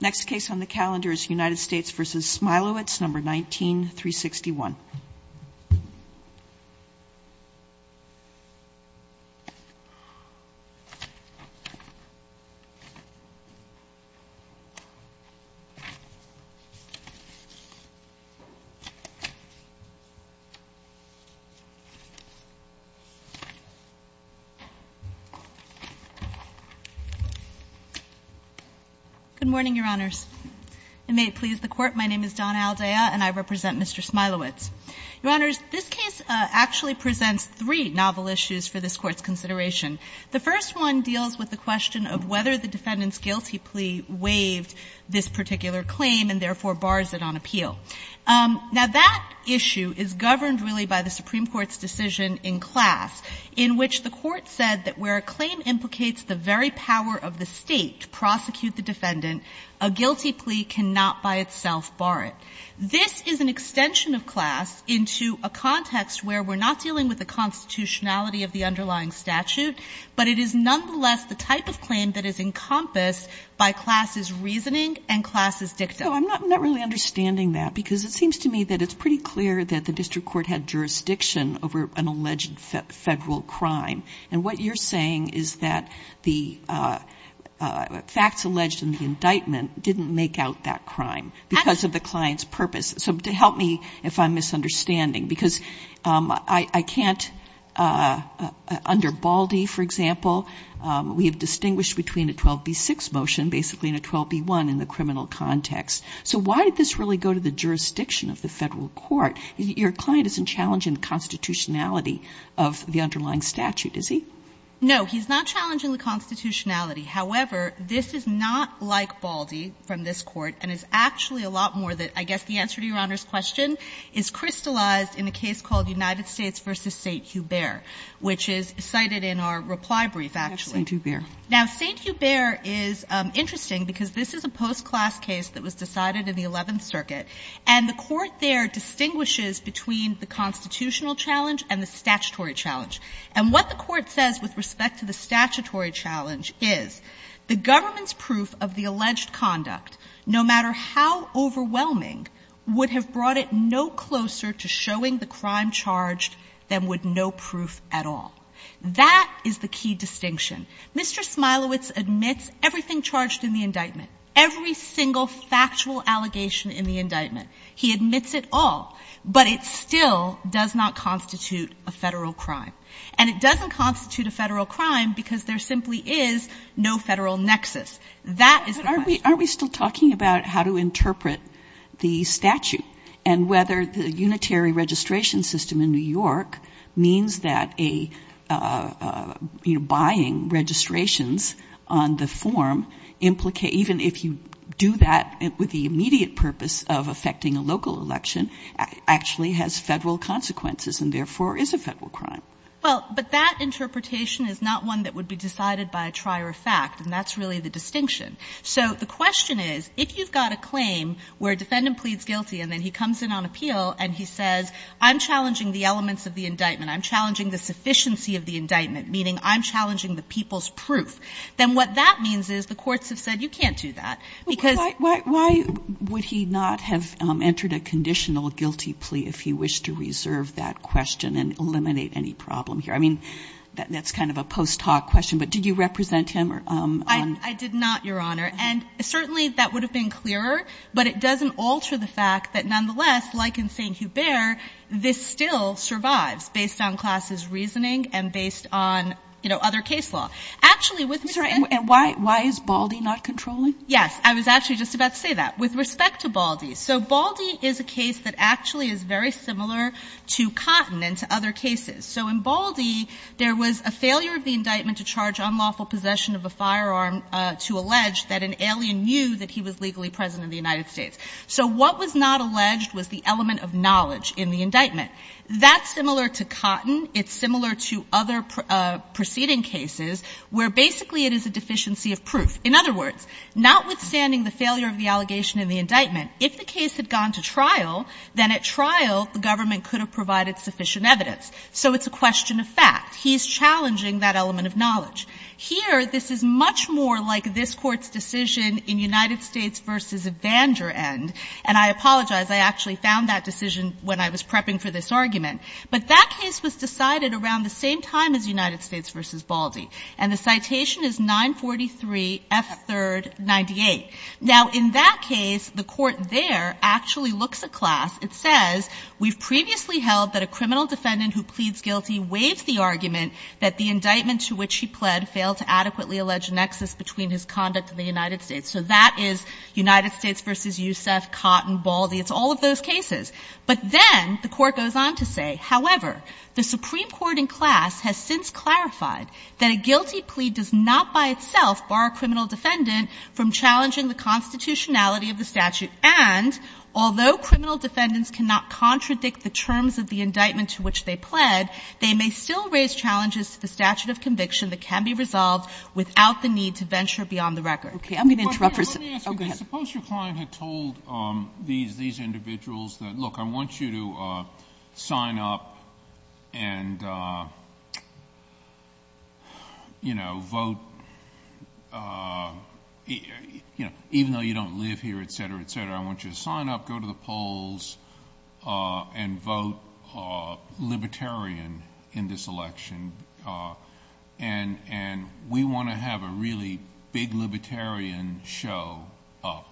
Next case on the calendar is United States v. Smilowitz, No. 19-361. Ms. Aldaya. Good morning, Your Honors. And may it please the Court, my name is Donna Aldaya, and I represent Mr. Smilowitz. Your Honors, this case actually presents three novel issues for this Court's consideration. The first one deals with the question of whether the defendant's guilty plea waived this particular claim and, therefore, bars it on appeal. Now, that issue is governed, really, by the Supreme Court's decision in class in which the Court said that where a claim implicates the very power of the State to prosecute the defendant, a guilty plea cannot by itself bar it. This is an extension of class into a context where we're not dealing with the constitutionality of the underlying statute, but it is nonetheless the type of claim that is encompassed by class's reasoning and class's dictum. I'm not really understanding that, because it seems to me that it's pretty clear that the district court had jurisdiction over an alleged Federal crime. And what you're saying is that the facts alleged in the indictment didn't make out that crime because of the client's purpose. So to help me if I'm misunderstanding, because I can't, under Baldy, for example, we have distinguished between a 12b-6 motion, basically, and a 12b-1 in the criminal context. So why did this really go to the jurisdiction of the Federal Court? Your client isn't challenging the constitutionality of the underlying statute, is he? No, he's not challenging the constitutionality. However, this is not like Baldy from this Court, and it's actually a lot more that I guess the answer to Your Honor's question is crystallized in a case called United States v. St. Hubert, which is cited in our reply brief, actually. St. Hubert. Now, St. Hubert is interesting because this is a post-class case that was decided in the Eleventh Circuit, and the Court there distinguishes between the constitutional challenge and the statutory challenge. And what the Court says with respect to the statutory challenge is the government's proof of the alleged conduct, no matter how overwhelming, would have brought it no closer to showing the crime charged than would no proof at all. That is the key distinction. Mr. Smilowitz admits everything charged in the indictment, every single factual allegation in the indictment. He admits it all, but it still does not constitute a Federal crime. And it doesn't constitute a Federal crime because there simply is no Federal nexus. That is the question. But aren't we still talking about how to interpret the statute and whether the unitary registration system in New York means that a, you know, buying registrations on the form implicate, even if you do that with the immediate purpose of affecting a local election, actually has Federal consequences and therefore is a Federal crime? Well, but that interpretation is not one that would be decided by a trier of fact, and that's really the distinction. So the question is, if you've got a claim where a defendant pleads guilty and then he comes in on appeal and he says, I'm challenging the elements of the indictment, I'm challenging the sufficiency of the indictment, meaning I'm challenging the people's proof, then what that means is the courts have said, you can't do that because why would he not have entered a conditional guilty plea if he wished to reserve that question and eliminate any problem here? I mean, that's kind of a post hoc question, but did you represent him or I did not, Your Honor. And certainly that would have been clearer, but it doesn't alter the fact that this still survives based on Class's reasoning and based on, you know, other case law. Actually, with Mr. Henry's case. And why is Baldi not controlling? Yes. I was actually just about to say that. With respect to Baldi. So Baldi is a case that actually is very similar to Cotton and to other cases. So in Baldi, there was a failure of the indictment to charge unlawful possession of a firearm to allege that an alien knew that he was legally present in the United States. So what was not alleged was the element of knowledge in the indictment. That's similar to Cotton. It's similar to other proceeding cases where basically it is a deficiency of proof. In other words, notwithstanding the failure of the allegation in the indictment, if the case had gone to trial, then at trial the government could have provided sufficient evidence. So it's a question of fact. He's challenging that element of knowledge. Here, this is much more like this Court's decision in United States v. Evander End, and I apologize. I actually found that decision when I was prepping for this argument. But that case was decided around the same time as United States v. Baldi. And the citation is 943 F. 3rd 98. Now, in that case, the Court there actually looks at class. It says, We've previously held that a criminal defendant who pleads guilty waives the argument that the indictment to which he pled failed to adequately allege a nexus between his conduct in the United States. So that is United States v. Yousef, Cotton, Baldi. It's all of those cases. But then the Court goes on to say, However, the Supreme Court in class has since clarified that a guilty plea does not by itself bar a criminal defendant from challenging the constitutionality of the statute, and although criminal defendants cannot contradict the terms of the the statute of conviction that can be resolved without the need to venture beyond Sotomayor, let me ask you, suppose your client had told these individuals that, look, I want you to sign up and, you know, vote, you know, even though you don't live here, et cetera, et cetera, I want you to sign up, go to the polls, and vote libertarian in this election. And we want to have a really big libertarian show up,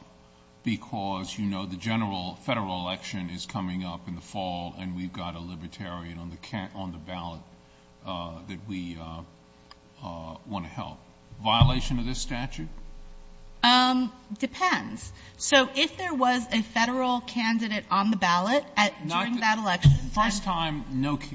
because, you know, the general Federal election is coming up in the fall, and we've got a libertarian on the ballot that we want to help. Violation of this statute? Depends. So if there was a Federal candidate on the ballot during that election First time,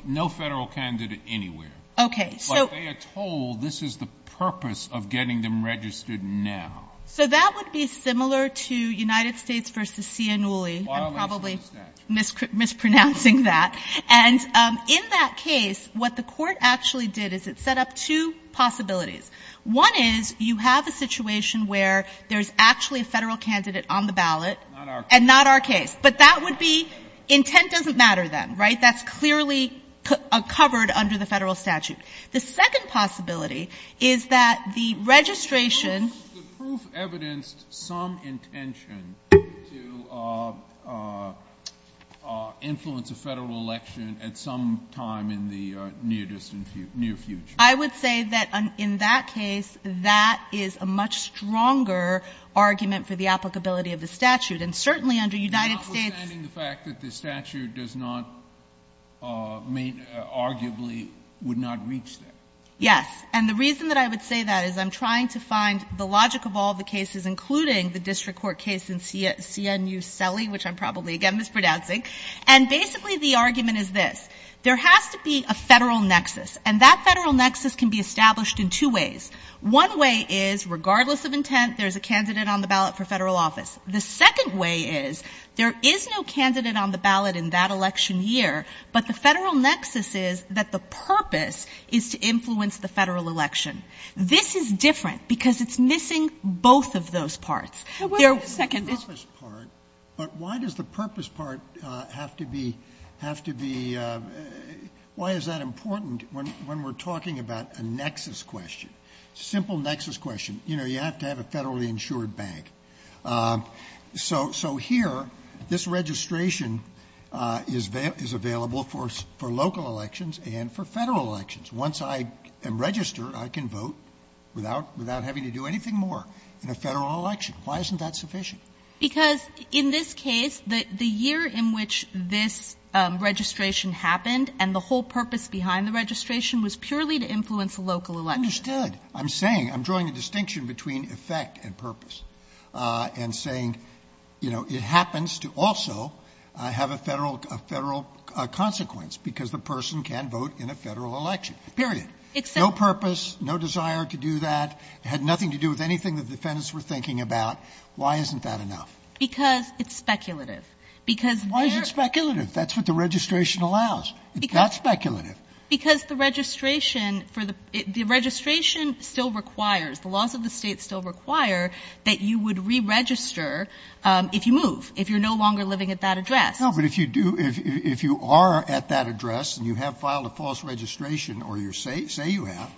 no Federal candidate anywhere. Okay. But they are told this is the purpose of getting them registered now. So that would be similar to United States v. Ciannulli. Violation of the statute. I'm probably mispronouncing that. And in that case, what the Court actually did is it set up two possibilities. One is you have a situation where there's actually a Federal candidate on the ballot. Not our case. And not our case. But that would be, intent doesn't matter then, right? That's clearly covered under the Federal statute. The second possibility is that the registration The proof evidenced some intention to influence a Federal election at some time in the near distant future, near future. I would say that in that case, that is a much stronger argument for the applicability of the statute. And certainly under United States Understanding the fact that the statute does not, arguably would not reach that. Yes. And the reason that I would say that is I'm trying to find the logic of all the cases, including the District Court case in Ciannulli, which I'm probably, again, mispronouncing. And basically the argument is this. There has to be a Federal nexus. And that Federal nexus can be established in two ways. One way is, regardless of intent, there's a candidate on the ballot for Federal office. The second way is, there is no candidate on the ballot in that election year, but the Federal nexus is that the purpose is to influence the Federal election. This is different, because it's missing both of those parts. They're second. But why does the purpose part have to be, have to be, why is that important when we're talking about a nexus question? Simple nexus question. You know, you have to have a Federally insured bank. So here, this registration is available for local elections and for Federal elections. Once I register, I can vote without having to do anything more in a Federal election. Why isn't that sufficient? Because in this case, the year in which this registration happened and the whole purpose behind the registration was purely to influence the local election. I'm saying, I'm drawing a distinction between effect and purpose and saying, you know, it happens to also have a Federal consequence because the person can vote in a Federal election, period. No purpose, no desire to do that. It had nothing to do with anything the defendants were thinking about. Why isn't that enough? Because it's speculative. Because they're Why is it speculative? That's what the registration allows. It's not speculative. Because the registration for the registration still requires, the laws of the State still require that you would re-register if you move, if you're no longer living at that address. No, but if you do, if you are at that address and you have filed a false registration or say you have,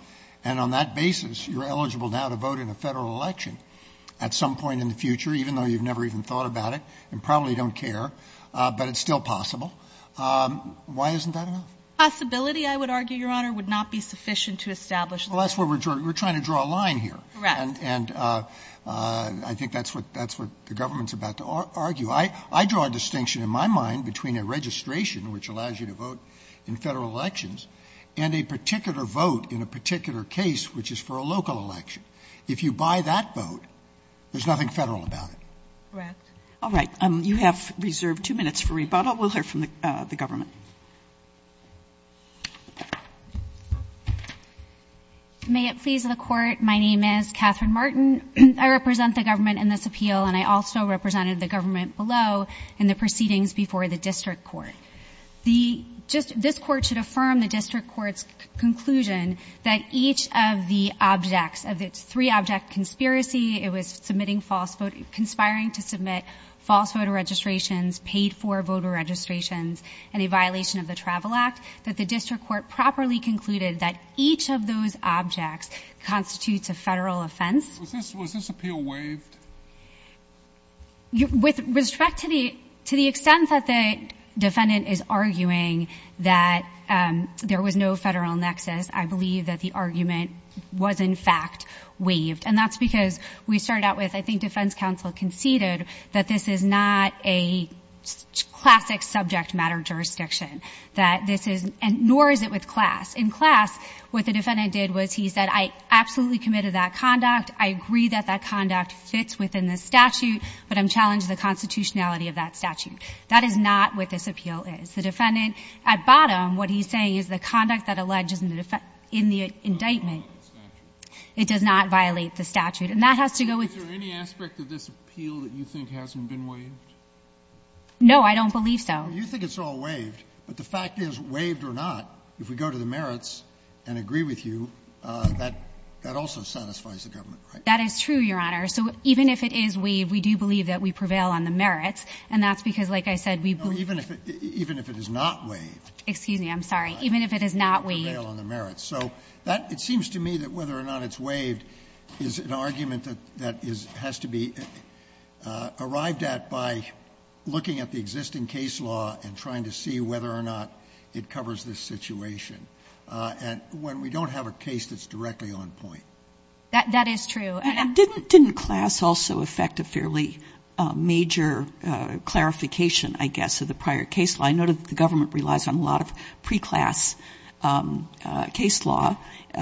and on that basis, you're eligible now to vote in a Federal election at some point in the future, even though you've never even thought about it and probably don't care, but it's still possible. Why isn't that enough? Possibility, I would argue, Your Honor, would not be sufficient to establish Well, that's where we're trying to draw a line here. Correct. And I think that's what the government's about to argue. I draw a distinction in my mind between a registration, which allows you to vote in Federal elections, and a particular vote in a particular case, which is for a local election. If you buy that vote, there's nothing Federal about it. Correct. All right. You have reserved two minutes for rebuttal. We'll hear from the government. May it please the Court. My name is Catherine Martin. I represent the government in this appeal, and I also represented the government below in the proceedings before the district court. The just this Court should affirm the district court's conclusion that each of the objects of its three-object conspiracy, it was submitting false vote, conspiring to submit false voter registrations, paid for voter registrations, and a violation of the Travel Act, that the district court properly concluded that each of those objects constitutes a Federal offense. Was this appeal waived? With respect to the extent that the defendant is arguing that there was no Federal nexus, I believe that the argument was, in fact, waived. And that's because we started out with, I think defense counsel conceded that this is not a classic subject matter jurisdiction. That this is nor is it with class. In class, what the defendant did was he said, I absolutely committed that conduct. I agree that that conduct fits within the statute, but I'm challenging the constitutionality of that statute. That is not what this appeal is. The defendant at bottom, what he's saying is the conduct that alleges in the indictment, it does not violate the statute. And that has to go with the statute. No, I don't believe so. You think it's all waived. But the fact is, waived or not, if we go to the merits and agree with you, that also satisfies the government, right? That is true, Your Honor. So even if it is waived, we do believe that we prevail on the merits. And that's because, like I said, we believe. No, even if it is not waived. Excuse me, I'm sorry. Even if it is not waived. We prevail on the merits. So that, it seems to me that whether or not it's waived is an argument that has to be arrived at by looking at the existing case law and trying to see whether or not it covers this situation. And when we don't have a case that's directly on point. That is true. And didn't class also affect a fairly major clarification, I guess, of the prior case law? I know that the government relies on a lot of pre-class case law,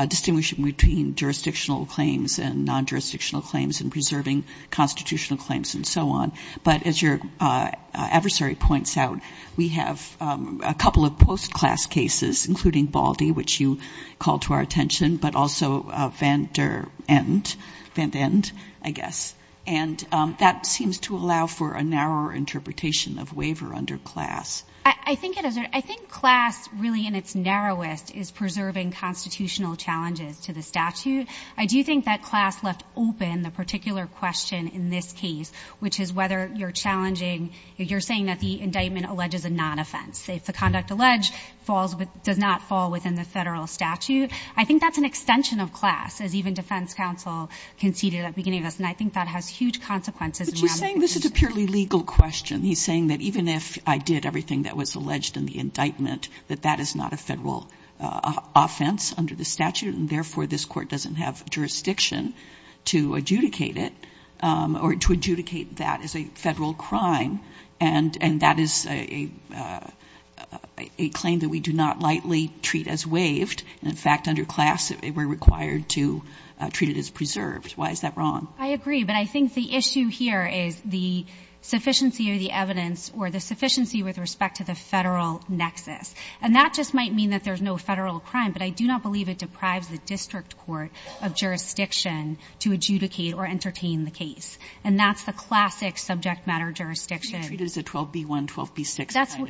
distinguishing between jurisdictional claims and non-jurisdictional claims and preserving constitutional claims and so on. But as your adversary points out, we have a couple of post-class cases, including Baldy, which you called to our attention, but also Van Der End. Van Der End, I guess. And that seems to allow for a narrower interpretation of waiver under class. I think it is. But I think class really in its narrowest is preserving constitutional challenges to the statute. I do think that class left open the particular question in this case, which is whether you're challenging, you're saying that the indictment alleges a non-offense. If the conduct alleged falls, does not fall within the Federal statute, I think that's an extension of class, as even defense counsel conceded at the beginning of this. And I think that has huge consequences. But you're saying this is a purely legal question. He's saying that even if I did everything that was alleged in the indictment, that that is not a Federal offense under the statute, and therefore this Court doesn't have jurisdiction to adjudicate it or to adjudicate that as a Federal crime. And that is a claim that we do not lightly treat as waived. In fact, under class, we're required to treat it as preserved. Why is that wrong? I agree. But I think the issue here is the sufficiency of the evidence or the sufficiency with respect to the Federal nexus. And that just might mean that there's no Federal crime, but I do not believe it deprives the district court of jurisdiction to adjudicate or entertain the case. And that's the classic subject matter jurisdiction. You treat it as a 12b-1, 12b-6 kind of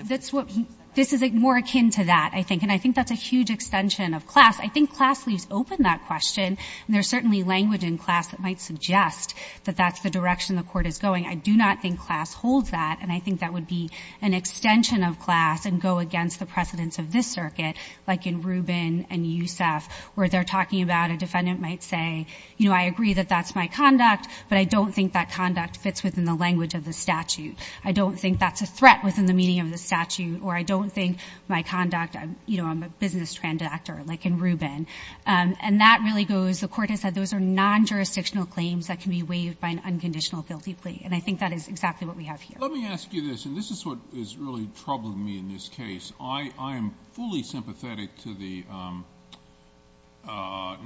thing. This is more akin to that, I think. And I think that's a huge extension of class. I think class leaves open that question. And there's certainly language in class that might suggest that that's the direction the Court is going. I do not think class holds that, and I think that would be an extension of class and go against the precedence of this circuit, like in Rubin and Yousef, where they're talking about a defendant might say, you know, I agree that that's my conduct, but I don't think that conduct fits within the language of the statute. I don't think that's a threat within the meaning of the statute, or I don't think my conduct, you know, I'm a business transactor, like in Rubin. And that really goes, the Court has said those are non-jurisdictional claims that can be waived by an unconditional guilty plea. And I think that is exactly what we have here. Let me ask you this, and this is what is really troubling me in this case. I am fully sympathetic to the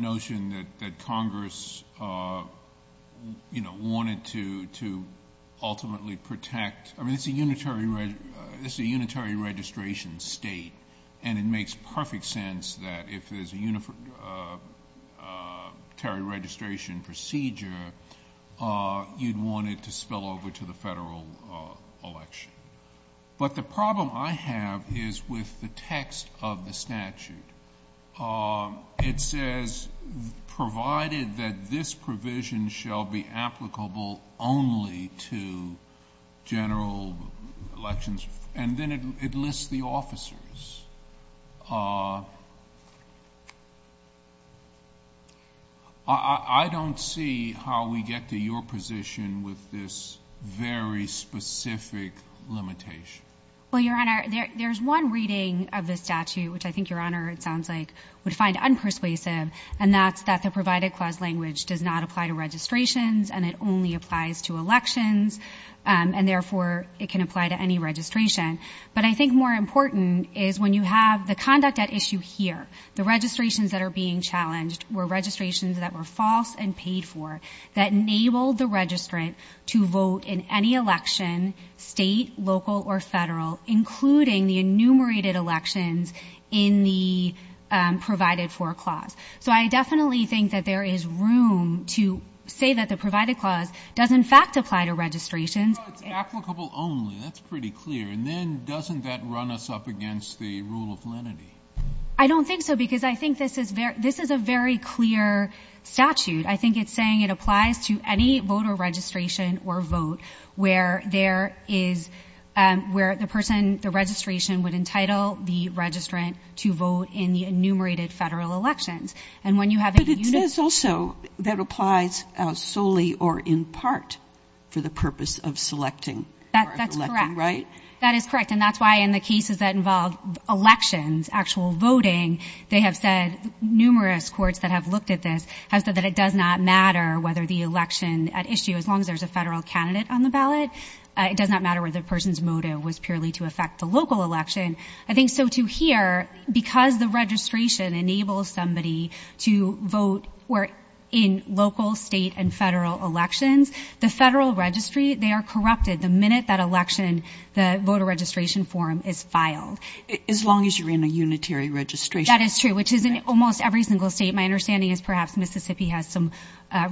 notion that Congress, you know, wanted to ultimately protect, I mean, it's a unitary registration state, and it makes perfect sense that if there's a unitary registration procedure, you'd want it to spill over to the Federal election. But the problem I have is with the text of the statute. It says, provided that this provision shall be applicable only to general elections, and then it lists the officers. I don't see how we get to your position with this very specific limitation. Well, Your Honor, there's one reading of the statute, which I think Your Honor, it sounds like, would find unpersuasive, and that's that the provided clause language does not apply to registrations, and it only applies to elections, and therefore it can apply to any registration. But I think more important is when you have the conduct at issue here, the registrations that are being challenged were registrations that were false and paid for, that enabled the registrant to vote in any election, state, local, or Federal, including the enumerated elections in the provided for clause. So I definitely think that there is room to say that the provided clause does, in fact, apply to registrations. No, it's applicable only. That's pretty clear. And then doesn't that run us up against the rule of lenity? I don't think so, because I think this is a very clear statute. I think it's saying it applies to any voter registration or vote where there is where the person, the registration would entitle the registrant to vote in the enumerated Federal elections. But it says also that it applies solely or in part for the purpose of selecting or electing, right? That's correct. That is correct. And that's why in the cases that involve elections, actual voting, they have said numerous courts that have looked at this have said that it does not matter whether the election at issue, as long as there's a Federal candidate on the ballot, it does not matter whether the person's motive was purely to affect the local election. I think so, too, here, because the registration enables somebody to vote where in local, state, and Federal elections, the Federal registry, they are corrupted the minute that election, the voter registration form is filed. As long as you're in a unitary registration. That is true, which is in almost every single state. My understanding is perhaps Mississippi has some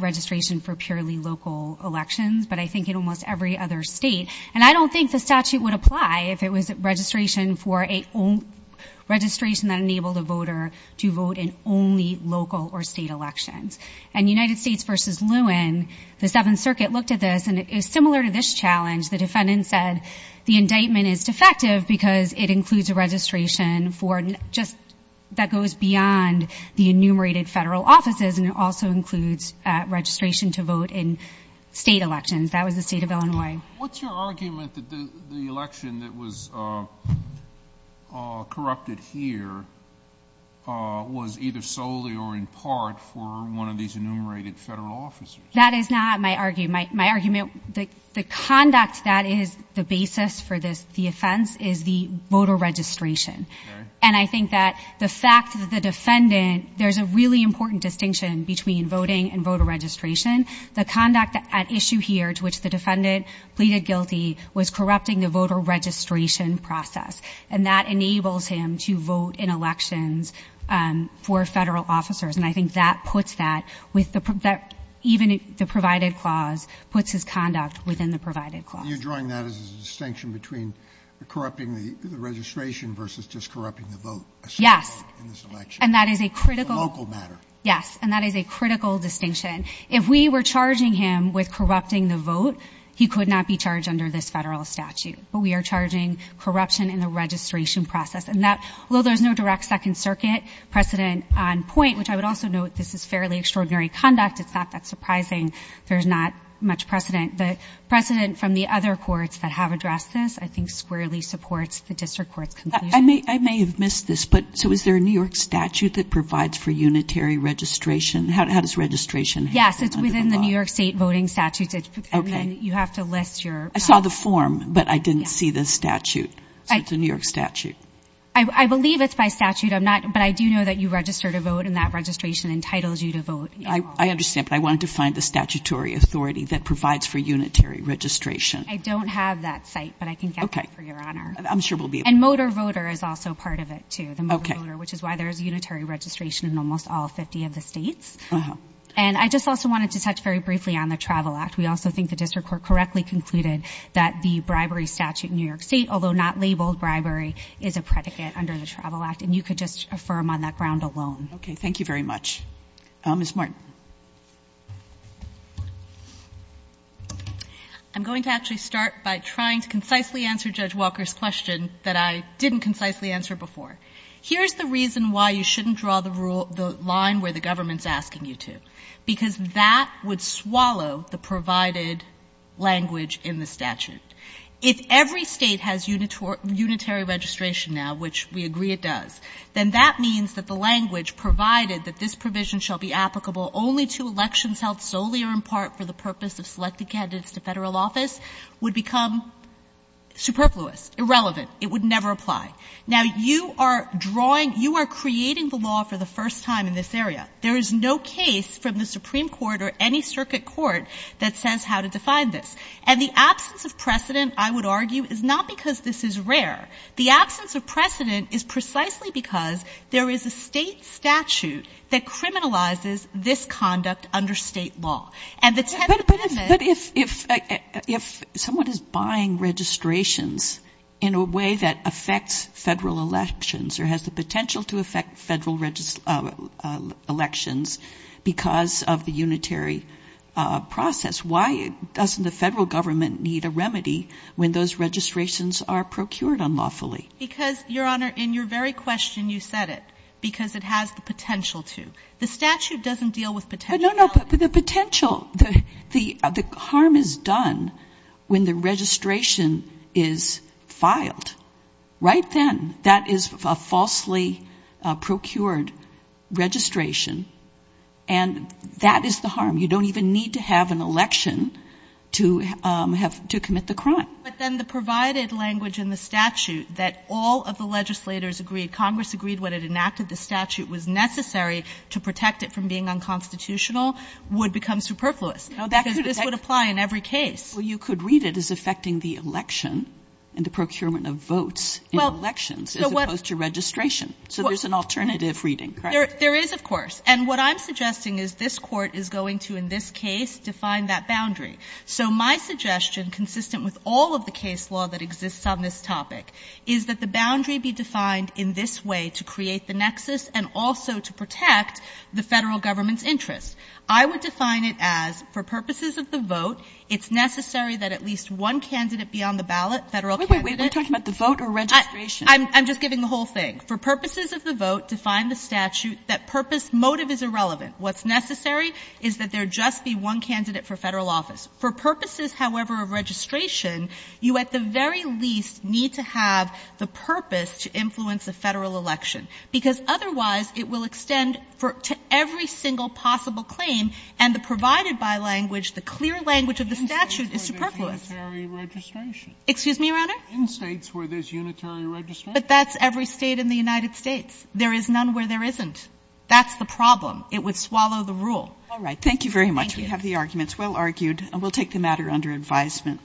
registration for purely local elections, but I think in almost every other state. And I don't think the statute would apply if it was registration for a registration that enabled a voter to vote in only local or state elections. And United States versus Lewin, the Seventh Circuit looked at this, and it is similar to this challenge. The defendant said the indictment is defective because it includes a registration for just that goes beyond the enumerated Federal offices, and it also includes registration to vote in state elections. That was the state of Illinois. What's your argument that the election that was corrupted here was either solely or in part for one of these enumerated Federal offices? That is not my argument. The conduct that is the basis for the offense is the voter registration. And I think that the fact that the defendant, there's a really important distinction between voting and voter registration. The conduct at issue here to which the defendant pleaded guilty was corrupting the voter registration process, and that enables him to vote in elections for Federal officers. And I think that puts that with the – even the provided clause puts his conduct within the provided clause. You're drawing that as a distinction between corrupting the registration versus just corrupting the vote. Yes. In this election. And that is a critical – The local matter. Yes, and that is a critical distinction. If we were charging him with corrupting the vote, he could not be charged under this Federal statute. But we are charging corruption in the registration process. And that – although there's no direct Second Circuit precedent on point, which I would also note, this is fairly extraordinary conduct. It's not that surprising. There's not much precedent. The precedent from the other courts that have addressed this, I think, squarely supports the district court's conclusion. I may have missed this, but so is there a New York statute that provides for unitary registration? How does registration – Yes, it's within the New York State Voting Statutes. Okay. And then you have to list your – I saw the form, but I didn't see the statute. So it's a New York statute. I believe it's by statute. I'm not – but I do know that you register to vote, and that registration entitles you to vote. I understand, but I wanted to find the statutory authority that provides for unitary registration. I don't have that site, but I can get that for your honor. Okay. I'm sure we'll be – And motor voter is also part of it, too, the motor voter, which is why there is unitary registration in almost all 50 of the States. Uh-huh. And I just also wanted to touch very briefly on the Travel Act. We also think the district court correctly concluded that the bribery statute in New York State, although not labeled bribery, is a predicate under the Travel Act, and you could just affirm on that ground alone. Okay. Thank you very much. Ms. Martin. I'm going to actually start by trying to concisely answer Judge Walker's question that I didn't concisely answer before. Here's the reason why you shouldn't draw the line where the government is asking you to, because that would swallow the provided language in the statute. If every State has unitary registration now, which we agree it does, then that means that the language provided that this provision shall be applicable only to elections held solely or in part for the purpose of selected candidates to Federal office would become superfluous, irrelevant. It would never apply. Now, you are drawing — you are creating the law for the first time in this area. There is no case from the Supreme Court or any circuit court that says how to define this. And the absence of precedent, I would argue, is not because this is rare. The absence of precedent is precisely because there is a State statute that criminalizes this conduct under State law. And the 10th Amendment —— in a way that affects Federal elections or has the potential to affect Federal elections because of the unitary process. Why doesn't the Federal government need a remedy when those registrations are procured unlawfully? Because, Your Honor, in your very question you said it, because it has the potential to. The statute doesn't deal with potentiality. No, no. But the potential — the harm is done when the registration is filed. Right then, that is a falsely procured registration, and that is the harm. You don't even need to have an election to have — to commit the crime. But then the provided language in the statute that all of the legislators agreed, Congress agreed when it enacted the statute, was necessary to protect it from being unconstitutional, would become superfluous. Because this would apply in every case. Well, you could read it as affecting the election and the procurement of votes in elections, as opposed to registration. So there's an alternative reading, correct? There is, of course. And what I'm suggesting is this Court is going to, in this case, define that boundary. So my suggestion, consistent with all of the case law that exists on this topic, is that the boundary be defined in this way to create the nexus and also to protect the Federal Government's interests. I would define it as, for purposes of the vote, it's necessary that at least one candidate be on the ballot, Federal candidate. Wait, wait, wait. Are you talking about the vote or registration? I'm just giving the whole thing. For purposes of the vote, define the statute. That purpose motive is irrelevant. What's necessary is that there just be one candidate for Federal office. For purposes, however, of registration, you at the very least need to have the purpose to influence a Federal election, because otherwise it will extend to every single possible claim, and the provided by language, the clear language of the statute is superfluous. Excuse me, Your Honor? In States where there's unitary registration. But that's every State in the United States. There is none where there isn't. That's the problem. It would swallow the rule. All right. Thank you very much. Thank you. We have the arguments well argued, and we'll take the matter under advisement.